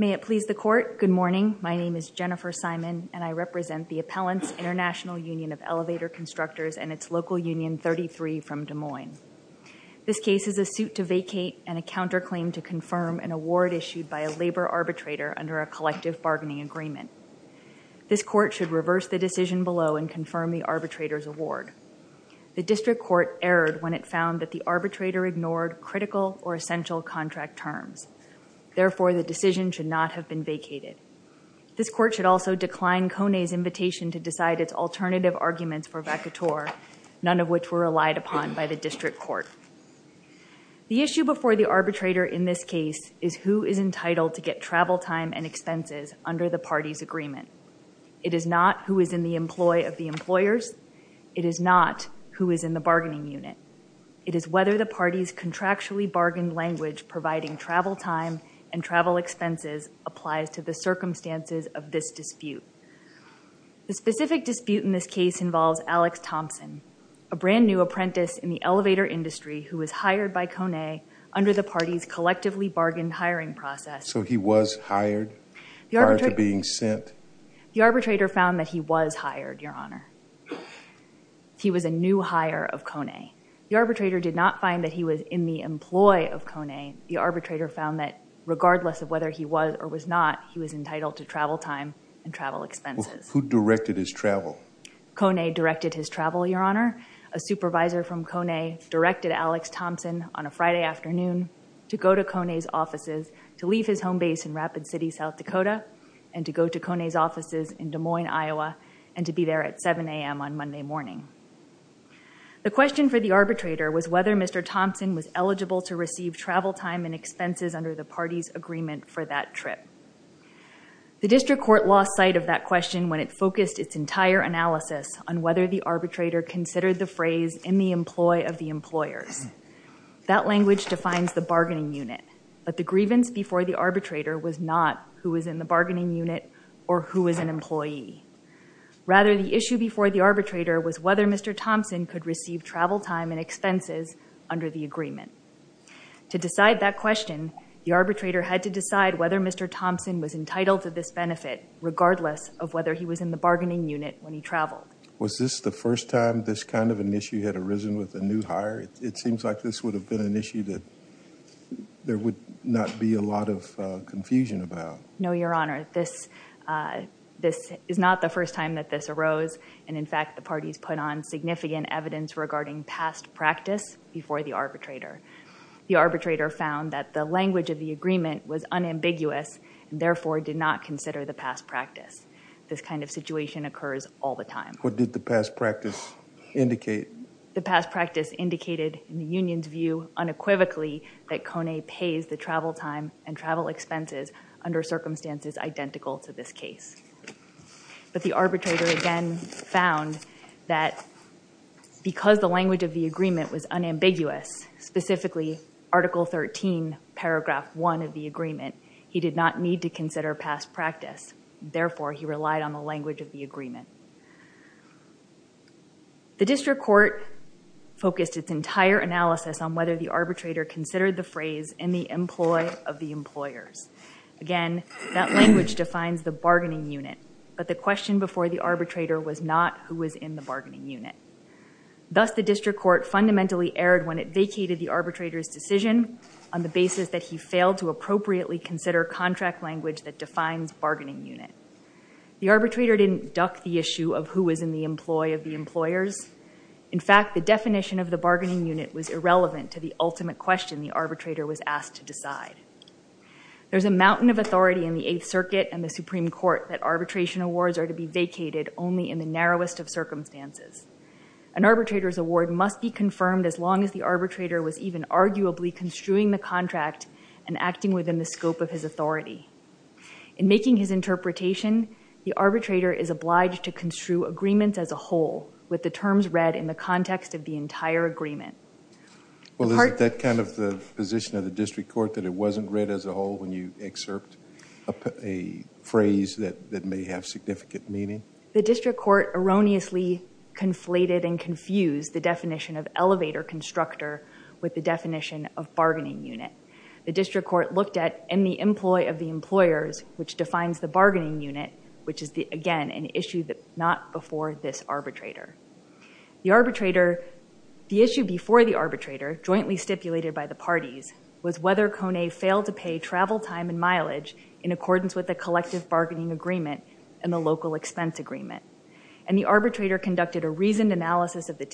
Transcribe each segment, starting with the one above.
May it please the Court, good morning. My name is Jennifer Simon, and I represent the Appellants International Union of Elevator Constructors and its local Union 33 from Des Moines. This case is a suit to vacate and a counterclaim to confirm an award issued by a labor arbitrator under a collective bargaining agreement. This Court should reverse the decision below and confirm the arbitrator's award. The District Court erred when it found that the arbitrator ignored critical or essential contract terms. Therefore, the decision should not have been vacated. This Court should also decline Kone's invitation to decide its alternative arguments for vacatur, none of which were relied upon by the District Court. The issue before the arbitrator in this case is who is entitled to get travel time and expenses under the party's agreement. It is not who is in the employ of the employers. It is not who is in the bargaining unit. It is whether the party's contractually bargained language providing travel time and travel expenses applies to the circumstances of this dispute. The specific dispute in this case involves Alex Thompson, a brand new apprentice in the elevator industry who was hired by Kone under the party's collectively bargained hiring process. So he was hired prior to being sent? The arbitrator found that he was hired, Your Honor. He was a new hire of Kone. The arbitrator did not find that he was in the employ of Kone. The arbitrator found that regardless of whether he was or was not, he was entitled to travel time and travel expenses. Who directed his travel? Kone directed his travel, Your Honor. A supervisor from Kone directed Alex Thompson on a Friday afternoon to go to Kone's offices to leave his home base in Rapid City, South Dakota and to go to Kone's offices in Des Moines, Iowa and to be there at 7 a.m. on Monday morning. The question for the arbitrator was whether Mr. Thompson was eligible to receive travel time and expenses under the party's agreement for that trip. The District Court lost sight of that question when it focused its entire analysis on whether the arbitrator considered the phrase in the employ of the employers. That language defines the bargaining unit, but the grievance before the arbitrator was not who was in the bargaining unit or who was an employee. Rather, the issue before the arbitrator was whether Mr. Thompson could receive travel time and expenses under the agreement. To decide that question, the arbitrator had to decide whether Mr. Thompson was entitled to this benefit regardless of whether he was in the bargaining unit when he this kind of an issue had arisen with a new hire. It seems like this would have been an issue that there would not be a lot of confusion about. No, Your Honor. This is not the first time that this arose and in fact the parties put on significant evidence regarding past practice before the arbitrator. The arbitrator found that the language of the agreement was unambiguous and therefore did not consider the past practice. This kind of situation occurs all the time. What did the past practice indicate? The past practice indicated in the union's view unequivocally that Kone pays the travel time and travel expenses under circumstances identical to this case. But the arbitrator again found that because the language of the agreement was unambiguous, specifically Article 13, paragraph 1 of the agreement, he did not need to consider past practice. Therefore, he relied on the language of the agreement. The district court focused its entire analysis on whether the arbitrator considered the phrase in the employ of the employers. Again, that language defines the bargaining unit, but the question before the arbitrator was not who was in the bargaining unit. Thus, the district court fundamentally erred when it vacated the arbitrator's decision on the basis that he failed to appropriately consider contract language that defines bargaining unit. The arbitrator didn't duck the issue of who was in the employ of the employers. In fact, the definition of the bargaining unit was irrelevant to the ultimate question the arbitrator was asked to decide. There's a mountain of authority in the Eighth Circuit and the Supreme Court that arbitration awards are to be vacated only in the narrowest of circumstances. An arbitrator's award must be confirmed as long as the arbitrator was even arguably construing the contract and acting within the scope of his authority. In making his interpretation, the arbitrator is obliged to construe agreements as a whole with the terms read in the context of the entire agreement. Well, is that kind of the position of the district court that it wasn't read as a whole when you excerpt a phrase that that may have significant meaning? The district court erroneously conflated and confused the contractor with the definition of bargaining unit. The district court looked at in the employ of the employers, which defines the bargaining unit, which is the again an issue that not before this arbitrator. The issue before the arbitrator, jointly stipulated by the parties, was whether Kone failed to pay travel time and mileage in accordance with the collective bargaining agreement and the local expense agreement. And the arbitrator conducted a reasoned analysis of the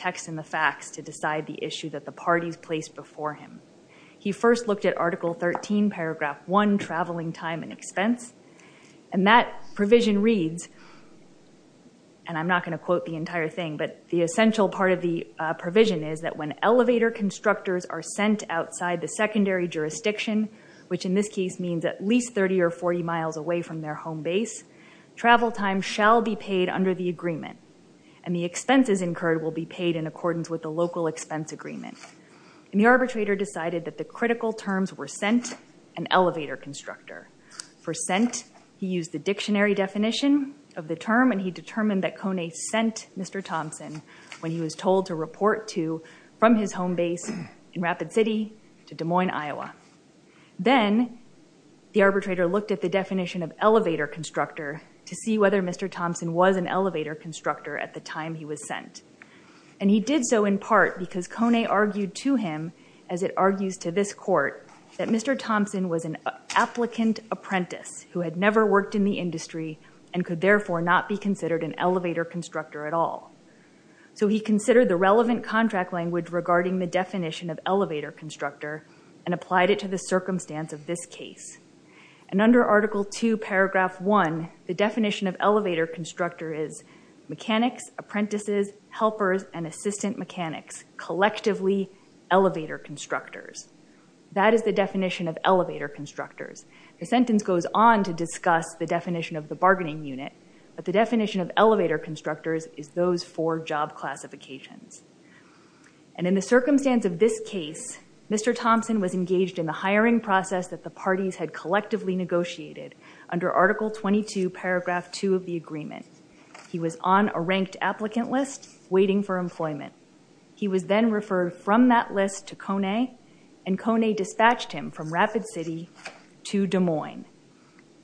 parties placed before him. He first looked at Article 13, Paragraph 1, traveling time and expense. And that provision reads, and I'm not going to quote the entire thing, but the essential part of the provision is that when elevator constructors are sent outside the secondary jurisdiction, which in this case means at least 30 or 40 miles away from their home base, travel time shall be paid under the agreement. And the expenses incurred will be paid in accordance with the local expense agreement. And the arbitrator decided that the critical terms were sent and elevator constructor. For sent, he used the dictionary definition of the term and he determined that Kone sent Mr. Thompson when he was told to report to from his home base in Rapid City to Des Moines, Iowa. Then the arbitrator looked at the definition of elevator constructor to see whether Mr. Thompson was an elevator constructor at the time he was sent. And he did so in part because Kone argued to him, as it argues to this court, that Mr. Thompson was an applicant apprentice who had never worked in the industry and could therefore not be considered an elevator constructor at all. So he considered the relevant contract language regarding the definition of elevator constructor and applied it to the circumstance of this case. And under Article 2, Paragraph 1, the definition of elevator constructor is mechanics, apprentices, helpers, and assistant mechanics, collectively elevator constructors. That is the definition of elevator constructors. The sentence goes on to discuss the definition of the bargaining unit, but the definition of elevator constructors is those for job classifications. And in the circumstance of this case, Mr. Thompson was engaged in the of the agreement. He was on a ranked applicant list waiting for employment. He was then referred from that list to Kone, and Kone dispatched him from Rapid City to Des Moines.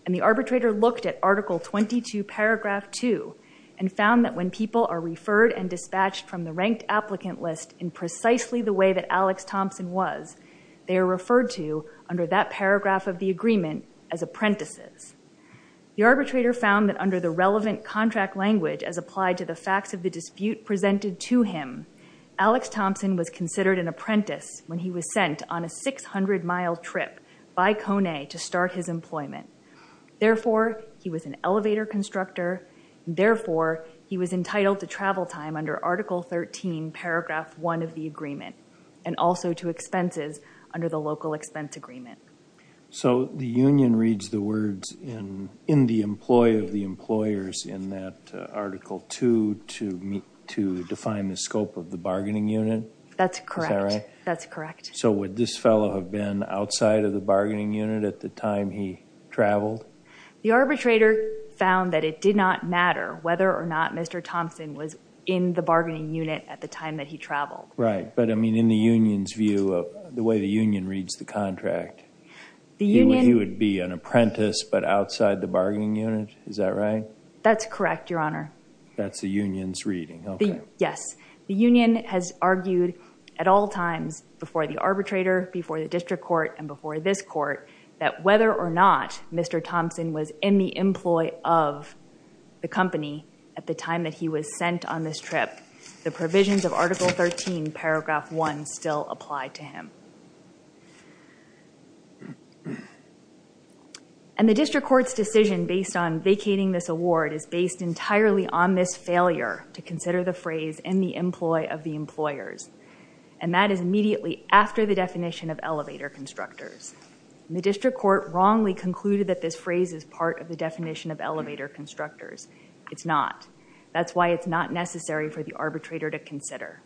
And the arbitrator looked at Article 22, Paragraph 2, and found that when people are referred and dispatched from the ranked applicant list in precisely the way that Alex Thompson was, they are referred to under that relevant contract language as applied to the facts of the dispute presented to him, Alex Thompson was considered an apprentice when he was sent on a 600-mile trip by Kone to start his employment. Therefore, he was an elevator constructor. Therefore, he was entitled to travel time under Article 13, Paragraph 1 of the agreement, and also to expenses under the local expense agreement. So the union reads the words in the employee of the employers in that Article 2 to define the scope of the bargaining unit? That's correct. So would this fellow have been outside of the bargaining unit at the time he traveled? The arbitrator found that it did not matter whether or not Mr. Thompson was in the bargaining unit at the time that he traveled. Right, but I mean in the union's reading, he would be an apprentice but outside the bargaining unit, is that right? That's correct, Your Honor. That's the union's reading, okay. Yes, the union has argued at all times before the arbitrator, before the district court, and before this court, that whether or not Mr. Thompson was in the employee of the company at the time that he was sent on this trip, the provisions of Article 13, Paragraph 1, still apply to him. And the district court's decision based on vacating this award is based entirely on this failure to consider the phrase in the employee of the employers, and that is immediately after the definition of elevator constructors. The district court wrongly concluded that this phrase is part of the definition of elevator constructors. It's not. That's why it's not necessary for the arbitrator to consider.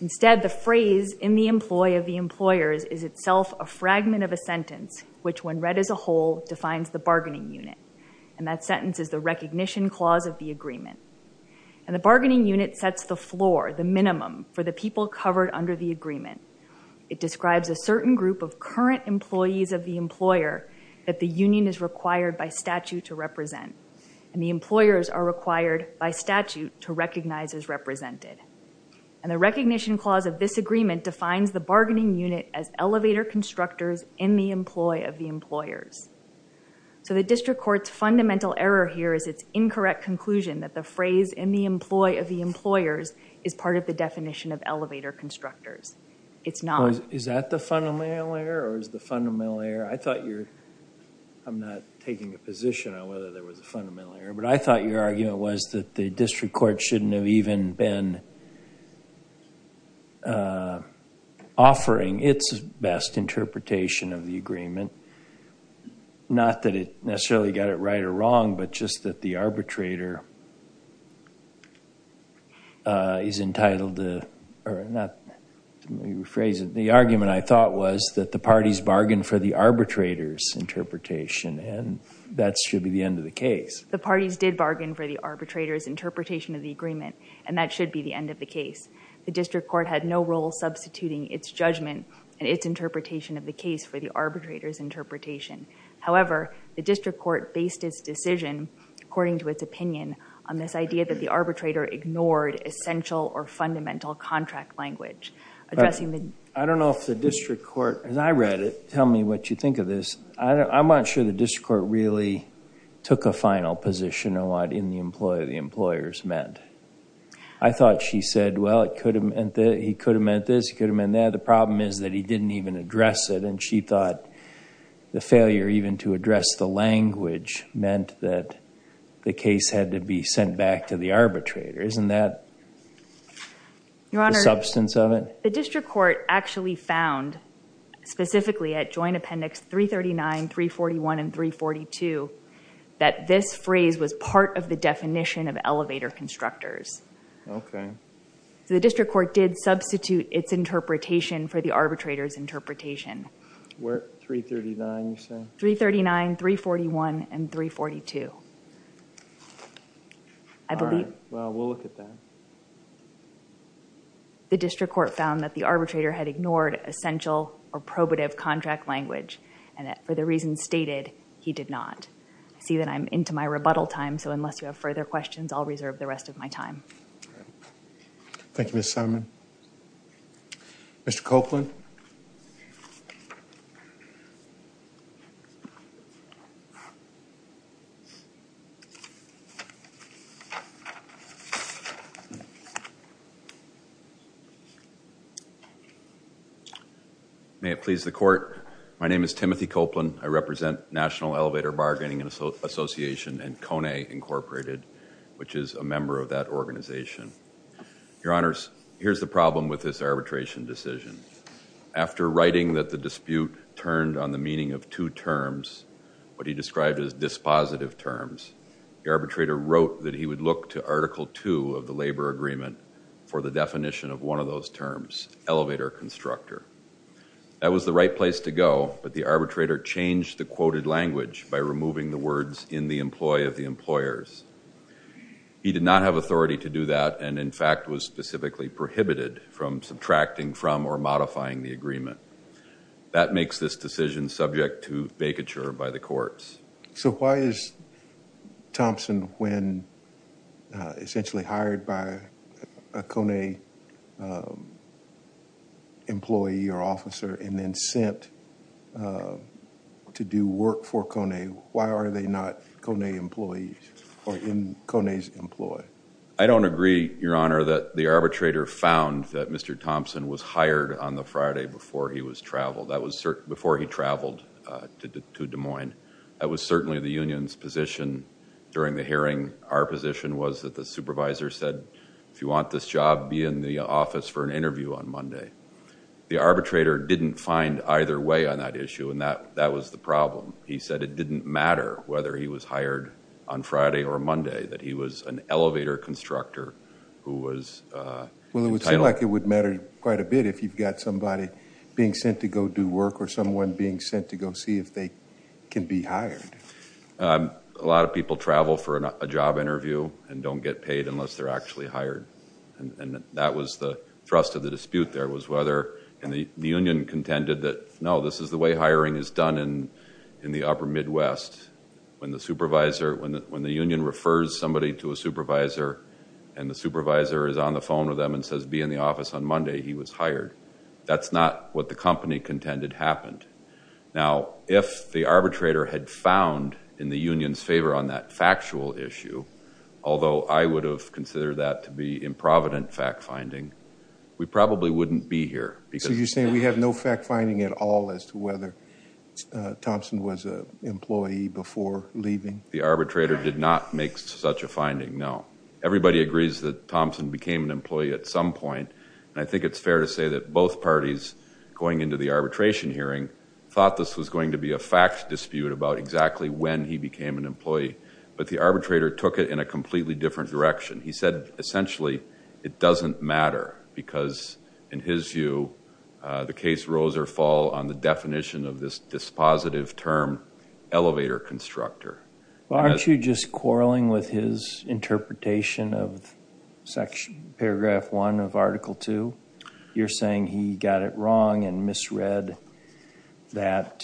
Instead, the phrase in the employee of the employers is itself a fragment of a sentence which, when read as a whole, defines the bargaining unit, and that sentence is the recognition clause of the agreement. And the bargaining unit sets the floor, the minimum, for the people covered under the agreement. It describes a certain group of current employees of the employer that the union is required by statute to represent, and the employers are to recognize as represented. And the recognition clause of this agreement defines the bargaining unit as elevator constructors in the employee of the employers. So the district court's fundamental error here is its incorrect conclusion that the phrase in the employee of the employers is part of the definition of elevator constructors. It's not. Is that the fundamental error or is the fundamental error? I thought you're, I'm not taking a position on whether there was a fundamental error, but I thought your argument was that the district court shouldn't have even been offering its best interpretation of the agreement. Not that it necessarily got it right or wrong, but just that the arbitrator is entitled to, or not, let me rephrase it. The argument I thought was that the parties bargained for the arbitrator's interpretation, and that should be the end of the case. The parties did bargain for the arbitrator's interpretation of the agreement, and that should be the end of the case. The district court had no role substituting its judgment and its interpretation of the case for the arbitrator's interpretation. However, the district court based its decision, according to its opinion, on this idea that the arbitrator ignored essential or fundamental contract language. I don't know if the district court, as I read it, tell me what you think of this. I'm not sure the district court really took a final position on what in the employer the employers meant. I thought she said, well, it could have meant that he could have meant this, he could have meant that. The problem is that he didn't even address it, and she thought the failure even to address the language meant that the case had to be sent back to the arbitrator. Isn't that the substance of it? Your Honor, the district court actually found, specifically at joint appendix 339, 341, and 342, that this phrase was part of the definition of elevator constructors. Okay. So the district court did substitute its interpretation for the arbitrator's interpretation. Where, 339 you say? 339, 341, and 342. All right. Well, we'll look at that. The district court found that the arbitrator had ignored essential or probative contract language, and that for the reasons stated, he did not. I see that I'm into my rebuttal time, so unless you have further questions, I'll reserve the rest of my time. Thank you, Ms. Simon. Mr. Copeland? May it please the court. My name is Timothy Copeland. I represent National Elevator Bargaining Association and KONE Incorporated, which is a member of that organization. Your Honors, here's the problem with this arbitration decision. After writing that the dispute turned on the meaning of two terms, what he described as dispositive terms, the arbitrator wrote that he would look to Article 2 of the labor agreement for the definition of one of those terms, elevator constructor. That was the right place to go, but the arbitrator changed the quoted language by removing the words, in the employ of the employers. He did not have authority to do that, and in fact, was specifically prohibited from subtracting from or modifying the agreement. That makes this decision subject to vacature by the courts. So why is Thompson, when essentially hired by a KONE employee or officer and then sent to do work for KONE, why are they not KONE employees or in KONE's employ? I don't agree, Your Honor, that the arbitrator found that Mr. Thompson was hired on the Friday before he was traveled, that was before he traveled to Des Moines. That was certainly the union's position during the hearing. Our position was that the supervisor said, if you want this job, be in the office for an interview on Monday. The arbitrator didn't find either way on that issue, and that was the problem. He said it didn't matter whether he was hired on Friday or Monday, that he was an elevator constructor who was entitled. It would matter quite a bit if you've got somebody being sent to go do work or someone being sent to go see if they can be hired. A lot of people travel for a job interview and don't get paid unless they're actually hired, and that was the thrust of the dispute there was whether, and the union contended that, no, this is the way hiring is done in the upper Midwest. When the supervisor, when the union refers somebody to a supervisor, and the supervisor is on the phone with them and says, be in the office on Monday, he was hired. That's not what the company contended happened. Now, if the arbitrator had found in the union's favor on that factual issue, although I would have considered that to be improvident fact-finding, we probably wouldn't be here. So you're saying we have no fact-finding at all as to whether Thompson was an employee before leaving? The arbitrator did not make such a finding, no. Everybody agrees that Thompson became an employee at some point, and I think it's fair to say that both parties going into the arbitration hearing thought this was going to be a fact dispute about exactly when he became an employee, but the arbitrator took it in a completely different direction. He said, essentially, it doesn't matter because, in his view, the case rose or fall on the definition of this dispositive term, elevator constructor. Aren't you just quarreling with his interpretation of paragraph one of article two? You're saying he got it wrong and misread that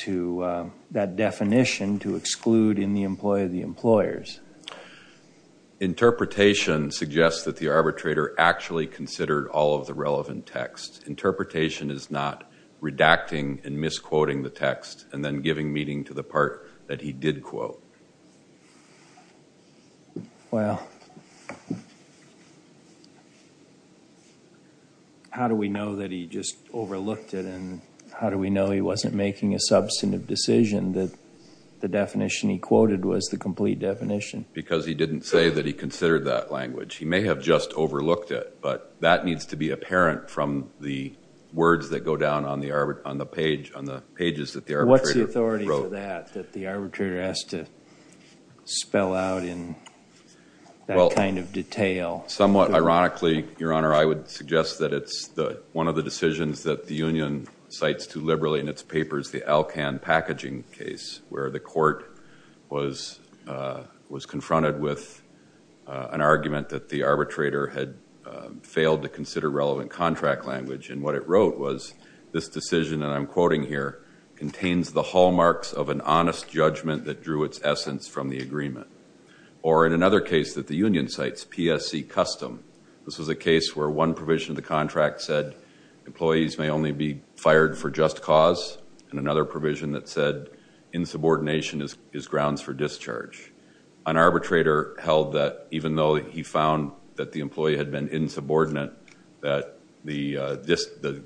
definition to exclude in the employee the employers. Interpretation suggests that the arbitrator actually considered all of the relevant text. Interpretation is not redacting and misquoting the text and then giving meaning to the part that he did quote. Well, how do we know that he just overlooked it, and how do we know he wasn't making a substantive decision that the definition he quoted was the complete definition? Because he didn't say that he considered that language. He may have just overlooked it, but that needs to be apparent from the words that go down on the page, on the pages that the arbitrator wrote. That the arbitrator has to spell out in that kind of detail. Somewhat ironically, Your Honor, I would suggest that it's one of the decisions that the union cites too liberally in its papers, the Alcan packaging case, where the court was confronted with an argument that the arbitrator had failed to consider relevant contract language. And what it wrote was, this decision, and I'm quoting here, contains the hallmarks of an honest judgment that drew its essence from the agreement. Or in another case that the union cites, PSC Custom. This was a case where one provision of the contract said, employees may only be fired for just cause. And another provision that said, insubordination is grounds for discharge. An arbitrator held that even though he found that the employee had been insubordinate, that the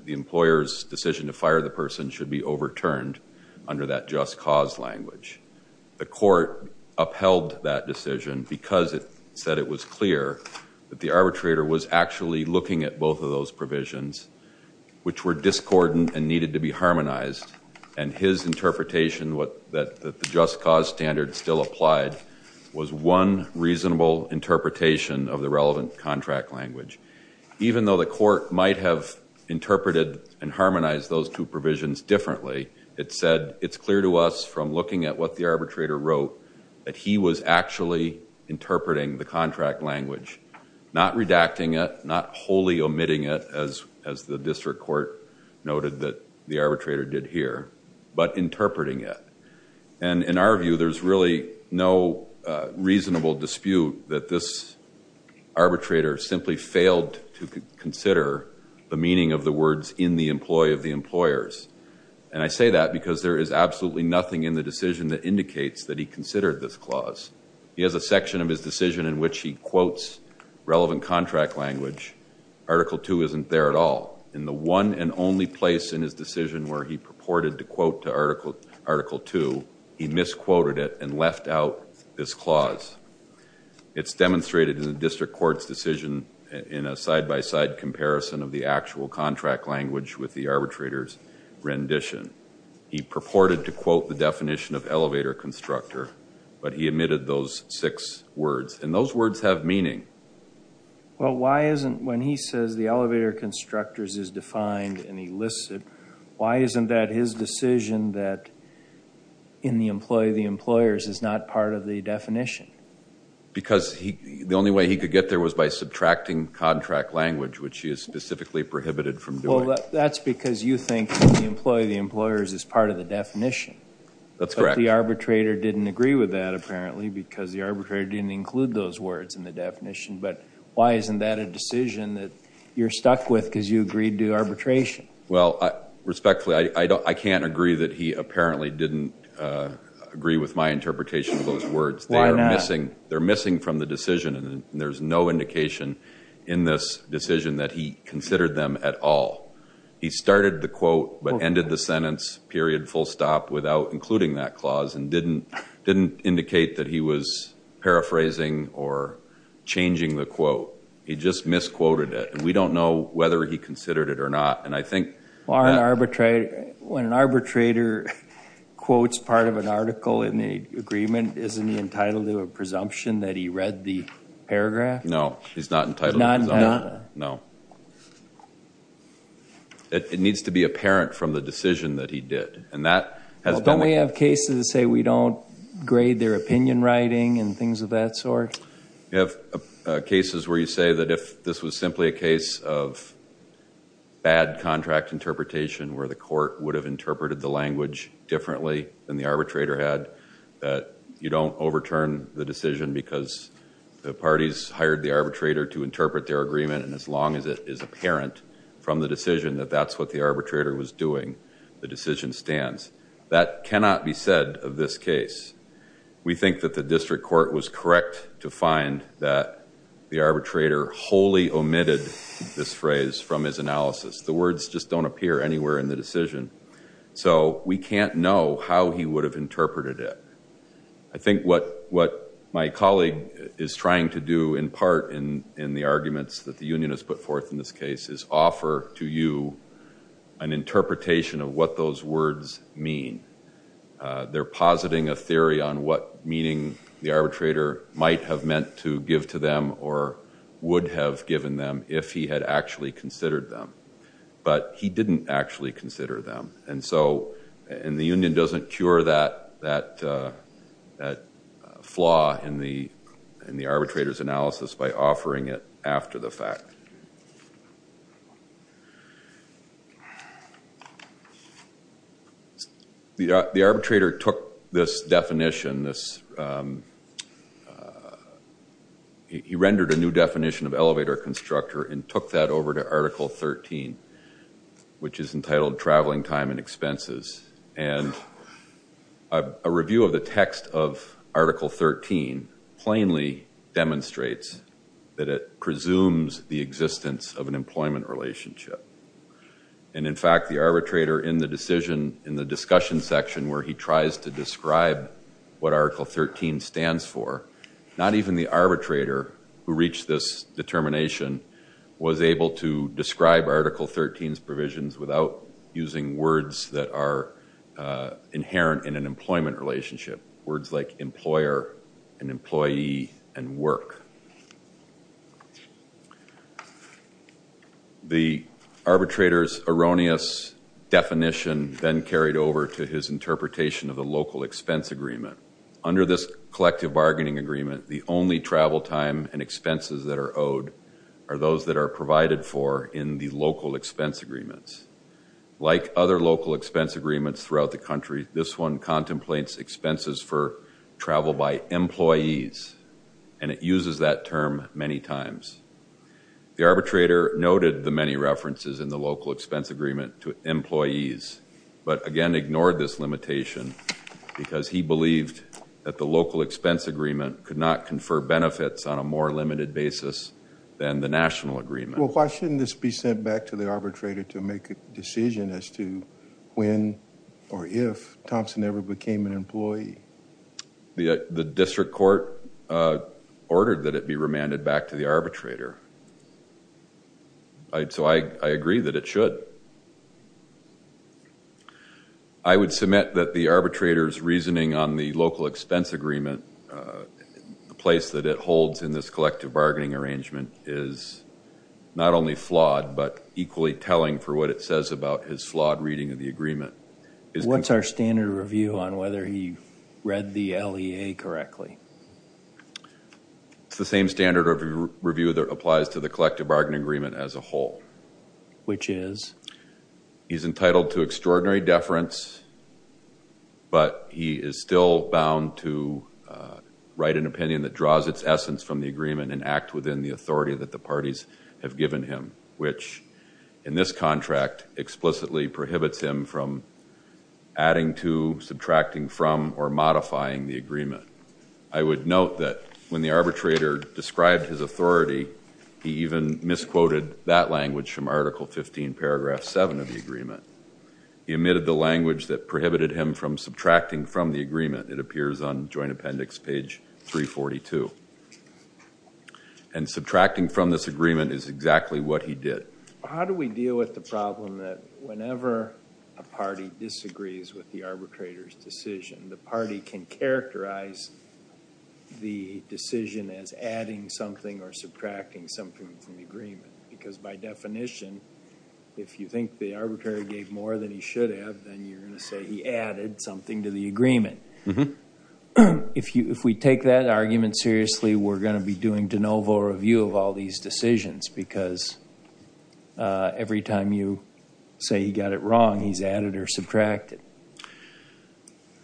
employer's decision to fire the person should be overturned under that just cause language. The court upheld that decision because it said it was clear that the arbitrator was actually looking at both of those provisions, which were discordant and needed to be harmonized. And his interpretation that the just cause standard still applied was one reasonable interpretation of the relevant contract language. Even though the court might have interpreted and harmonized those two provisions differently, it said, it's clear to us from looking at what the arbitrator wrote that he was actually interpreting the contract language. Not redacting it, not wholly omitting it, as the district court noted that the arbitrator did here, but interpreting it. And in our view, there's really no reasonable dispute that this could consider the meaning of the words in the employee of the employers. And I say that because there is absolutely nothing in the decision that indicates that he considered this clause. He has a section of his decision in which he quotes relevant contract language. Article two isn't there at all. In the one and only place in his decision where he purported to quote to article two, he misquoted it and left out this clause. It's demonstrated in the district court's decision in a side-by-side comparison of the actual contract language with the arbitrator's rendition. He purported to quote the definition of elevator constructor, but he omitted those six words. And those words have meaning. Well, why isn't when he says the elevator constructors is defined and he lists it, why isn't that his decision that in the employee of the employers is not part of the definition? Because the only way he could get there was by subtracting contract language, which he has specifically prohibited from doing. Well, that's because you think the employee of the employers is part of the definition. That's correct. But the arbitrator didn't agree with that, apparently, because the arbitrator didn't include those words in the definition. But why isn't that a decision that you're stuck with because you agreed to arbitration? Well, respectfully, I can't agree that he apparently didn't agree with my interpretation of those words. Why not? They're missing from the decision. And there's no indication in this decision that he considered them at all. He started the quote, but ended the sentence, period, full stop, without including that clause and didn't indicate that he was paraphrasing or changing the quote. He just misquoted it. And we don't know whether he considered it or not. And I think... When an arbitrator quotes part of an article in the agreement, isn't he entitled to a presumption that he read the paragraph? No, he's not entitled to a presumption. No. It needs to be apparent from the decision that he did. And that has been... Don't we have cases that say we don't grade their opinion writing and things of that sort? You have cases where you say that if this was simply a case of bad contract interpretation, where the court would have interpreted the language differently than the arbitrator had, that you don't overturn the decision because the parties hired the arbitrator to interpret their agreement. And as long as it is apparent from the decision that that's what the arbitrator was doing, the decision stands. That cannot be said of this case. We think that the district court was correct to find that the arbitrator wholly omitted this phrase from his analysis. The words just don't appear anywhere in the decision. So we can't know how he would have interpreted it. I think what my colleague is trying to do in part in the arguments that the union has put forth in this case is offer to you an interpretation of what those words mean. They're positing a theory on what meaning the arbitrator might have meant to give to them or would have given them if he had actually considered them. But he didn't actually consider them. And so and the union doesn't cure that flaw in the arbitrator's analysis by offering it after the fact. The arbitrator took this definition, he rendered a new definition of elevator constructor and took that over to Article 13, which is entitled traveling time and expenses. And a review of the text of Article 13 plainly demonstrates that it presumes the existence of an employment relationship. And in fact, the arbitrator in the decision in the discussion section where he tries to describe what Article 13 stands for, not even the arbitrator who reached this determination was able to describe Article 13's provisions without using words that are inherent in an employment relationship, words like employer and employee and work. The arbitrator's erroneous definition then carried over to his interpretation of the local expense agreement. Under this collective bargaining agreement, the only travel time and expenses that are owed are those that are provided for in the local expense agreements. Like other local expense agreements throughout the country, this one contemplates expenses for travel by employees. And it uses that term many times. The arbitrator noted the many references in the local expense agreement to employees, but again ignored this limitation because he believed that the local expense agreement could not confer benefits on a more limited basis than the national agreement. Well, why shouldn't this be sent back to the arbitrator to make a decision as to when or if Thompson ever became an employee? The district court ordered that it be remanded back to the arbitrator. So I agree that it should. I would submit that the arbitrator's reasoning on the local expense agreement the place that it holds in this collective bargaining arrangement is not only flawed, but equally telling for what it says about his flawed reading of the agreement. What's our standard review on whether he read the LEA correctly? It's the same standard of review that applies to the collective bargaining agreement as a whole. Which is? He's entitled to extraordinary deference, but he is still bound to write an opinion that draws its essence from the agreement and act within the authority that the parties have given him. Which, in this contract, explicitly prohibits him from adding to, subtracting from, or modifying the agreement. I would note that when the arbitrator described his authority, he even misquoted that language from Article 15, Paragraph 7 of the agreement. He omitted the language that prohibited him from subtracting from the agreement. It appears on joint appendix page 342. And subtracting from this agreement is exactly what he did. How do we deal with the problem that whenever a party disagrees with the arbitrator's decision, the party can characterize the decision as adding something or subtracting something from the agreement? Because by definition, if you think the arbitrator gave more than he should have, then you're going to say he added something to the agreement. If we take that argument seriously, we're going to be doing de novo review of all these decisions. Because every time you say he got it wrong, he's added or subtracted.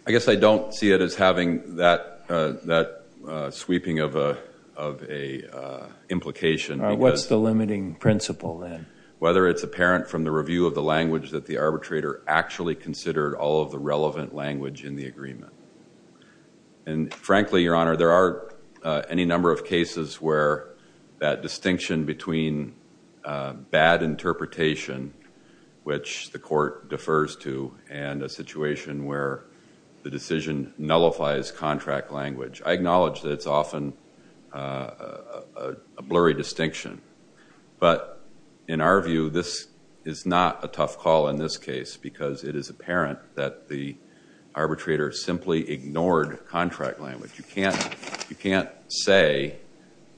I guess I don't see it as having that sweeping of an implication. What's the limiting principle then? Whether it's apparent from the review of the language that the arbitrator actually considered all of the relevant language in the agreement. And frankly, Your Honor, there are any number of cases where that distinction between bad interpretation, which the court defers to, and a situation where the decision nullifies contract language. I acknowledge that it's often a blurry distinction. But in our view, this is not a tough call in this case, because it is apparent that the arbitrator simply ignored contract language. You can't say,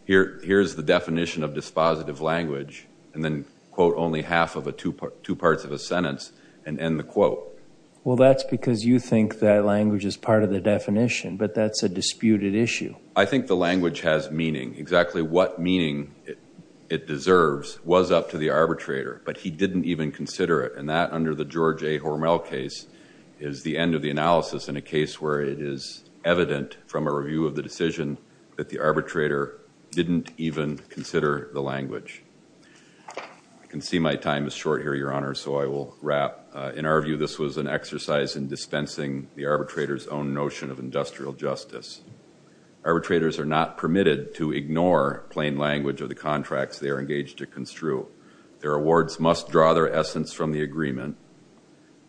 here's the definition of dispositive language, and then quote only half of two parts of a sentence and end the quote. Well, that's because you think that language is part of the definition. But that's a disputed issue. I think the language has meaning. Exactly what meaning it deserves was up to the arbitrator. But he didn't even consider it. And that, under the George A. Hormel case, is the end of the analysis in a case where it is evident from a review of the decision that the arbitrator didn't even consider the language. I can see my time is short here, Your Honor, so I will wrap. In our view, this was an exercise in dispensing the arbitrator's own notion of industrial justice. Arbitrators are not permitted to ignore plain language of the contracts they are engaged to construe. Their awards must draw their essence from the agreement.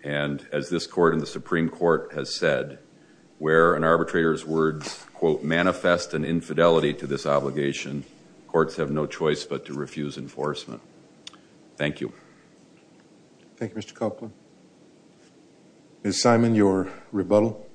And as this Court and the Supreme Court has said, where an arbitrator's words, quote, manifest an infidelity to this obligation, courts have no choice but to refuse enforcement. Thank you. Thank you, Mr. Copeland. Ms. Simon, your rebuttal.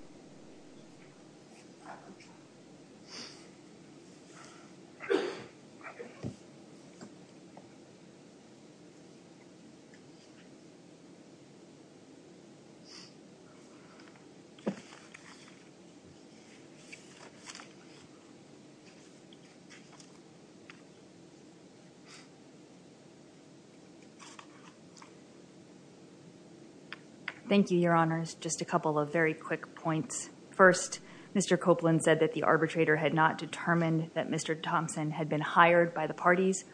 Thank you, Your Honors. Just a couple of very quick points. First, Mr. Copeland said that the arbitrator had not determined that Mr. Thompson had been hired by the parties.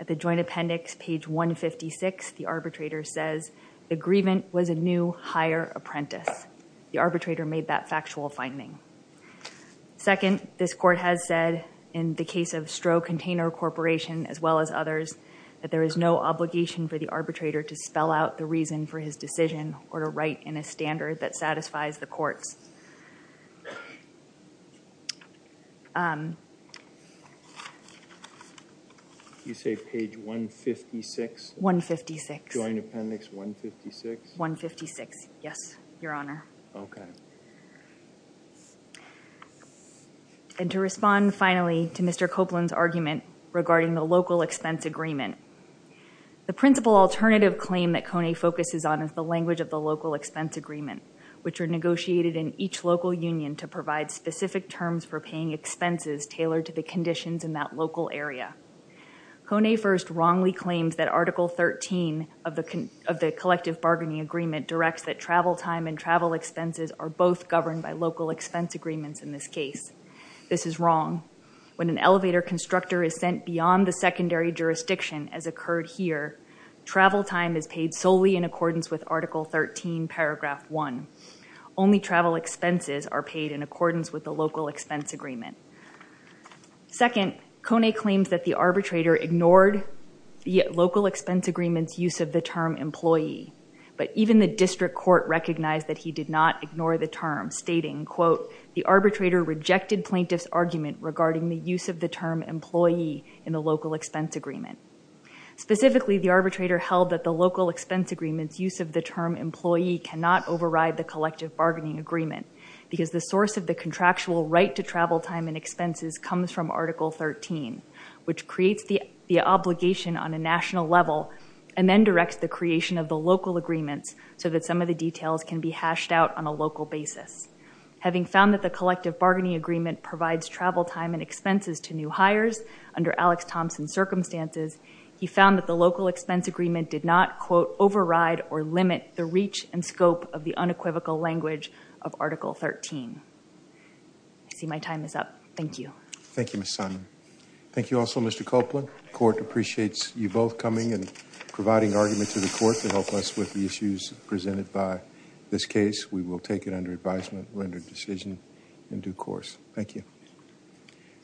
At the joint appendix, page 156, the arbitrator says, the grievance was a new hire apprentice. The arbitrator made that factual finding. Second, this Court has said, in the case of Stroh Container Corporation, as well as others, that there is no obligation for the arbitrator to spell out the reason for his decision or to write in a standard that satisfies the courts. You say page 156? 156. Joint appendix 156? 156, yes, Your Honor. And to respond, finally, to Mr. Copeland's argument regarding the local expense agreement, the principal alternative claim that Kone focuses on is the language of the local expense agreement, which are negotiated in each local union to provide specific terms for paying expenses tailored to the conditions in that local area. Kone first wrongly claims that Article 13 of the collective bargaining agreement directs that travel time and travel expenses are both governed by local expense agreements in this case. This is wrong. When an elevator constructor is sent beyond the secondary jurisdiction, as occurred here, travel time is paid solely in accordance with Article 13, paragraph 1. Only travel expenses are paid in accordance with the local expense agreement. Second, Kone claims that the arbitrator ignored the local expense agreement's use of the term employee, but even the district court recognized that he did not ignore the term, stating, the arbitrator rejected plaintiff's argument regarding the use of the term employee in the local expense agreement. Specifically, the arbitrator held that the local expense agreement's use of the term employee cannot override the collective bargaining agreement because the source of the contractual right to travel time and expenses comes from Article 13, which creates the obligation on a national level and then directs the creation of the local agreements so that some of the details can be hashed out on a local basis. Having found that the collective bargaining agreement provides travel time and expenses to new hires under Alex Thompson's circumstances, he found that the local expense agreement did not, quote, override or limit the reach and scope of the unequivocal language of Article 13. I see my time is up. Thank you. Thank you, Ms. Simon. Thank you also, Mr. Copeland. The court appreciates you both coming and providing argument to the court to help us with the issues presented by this case. We will take it under advisement, render decision in due course. Thank you.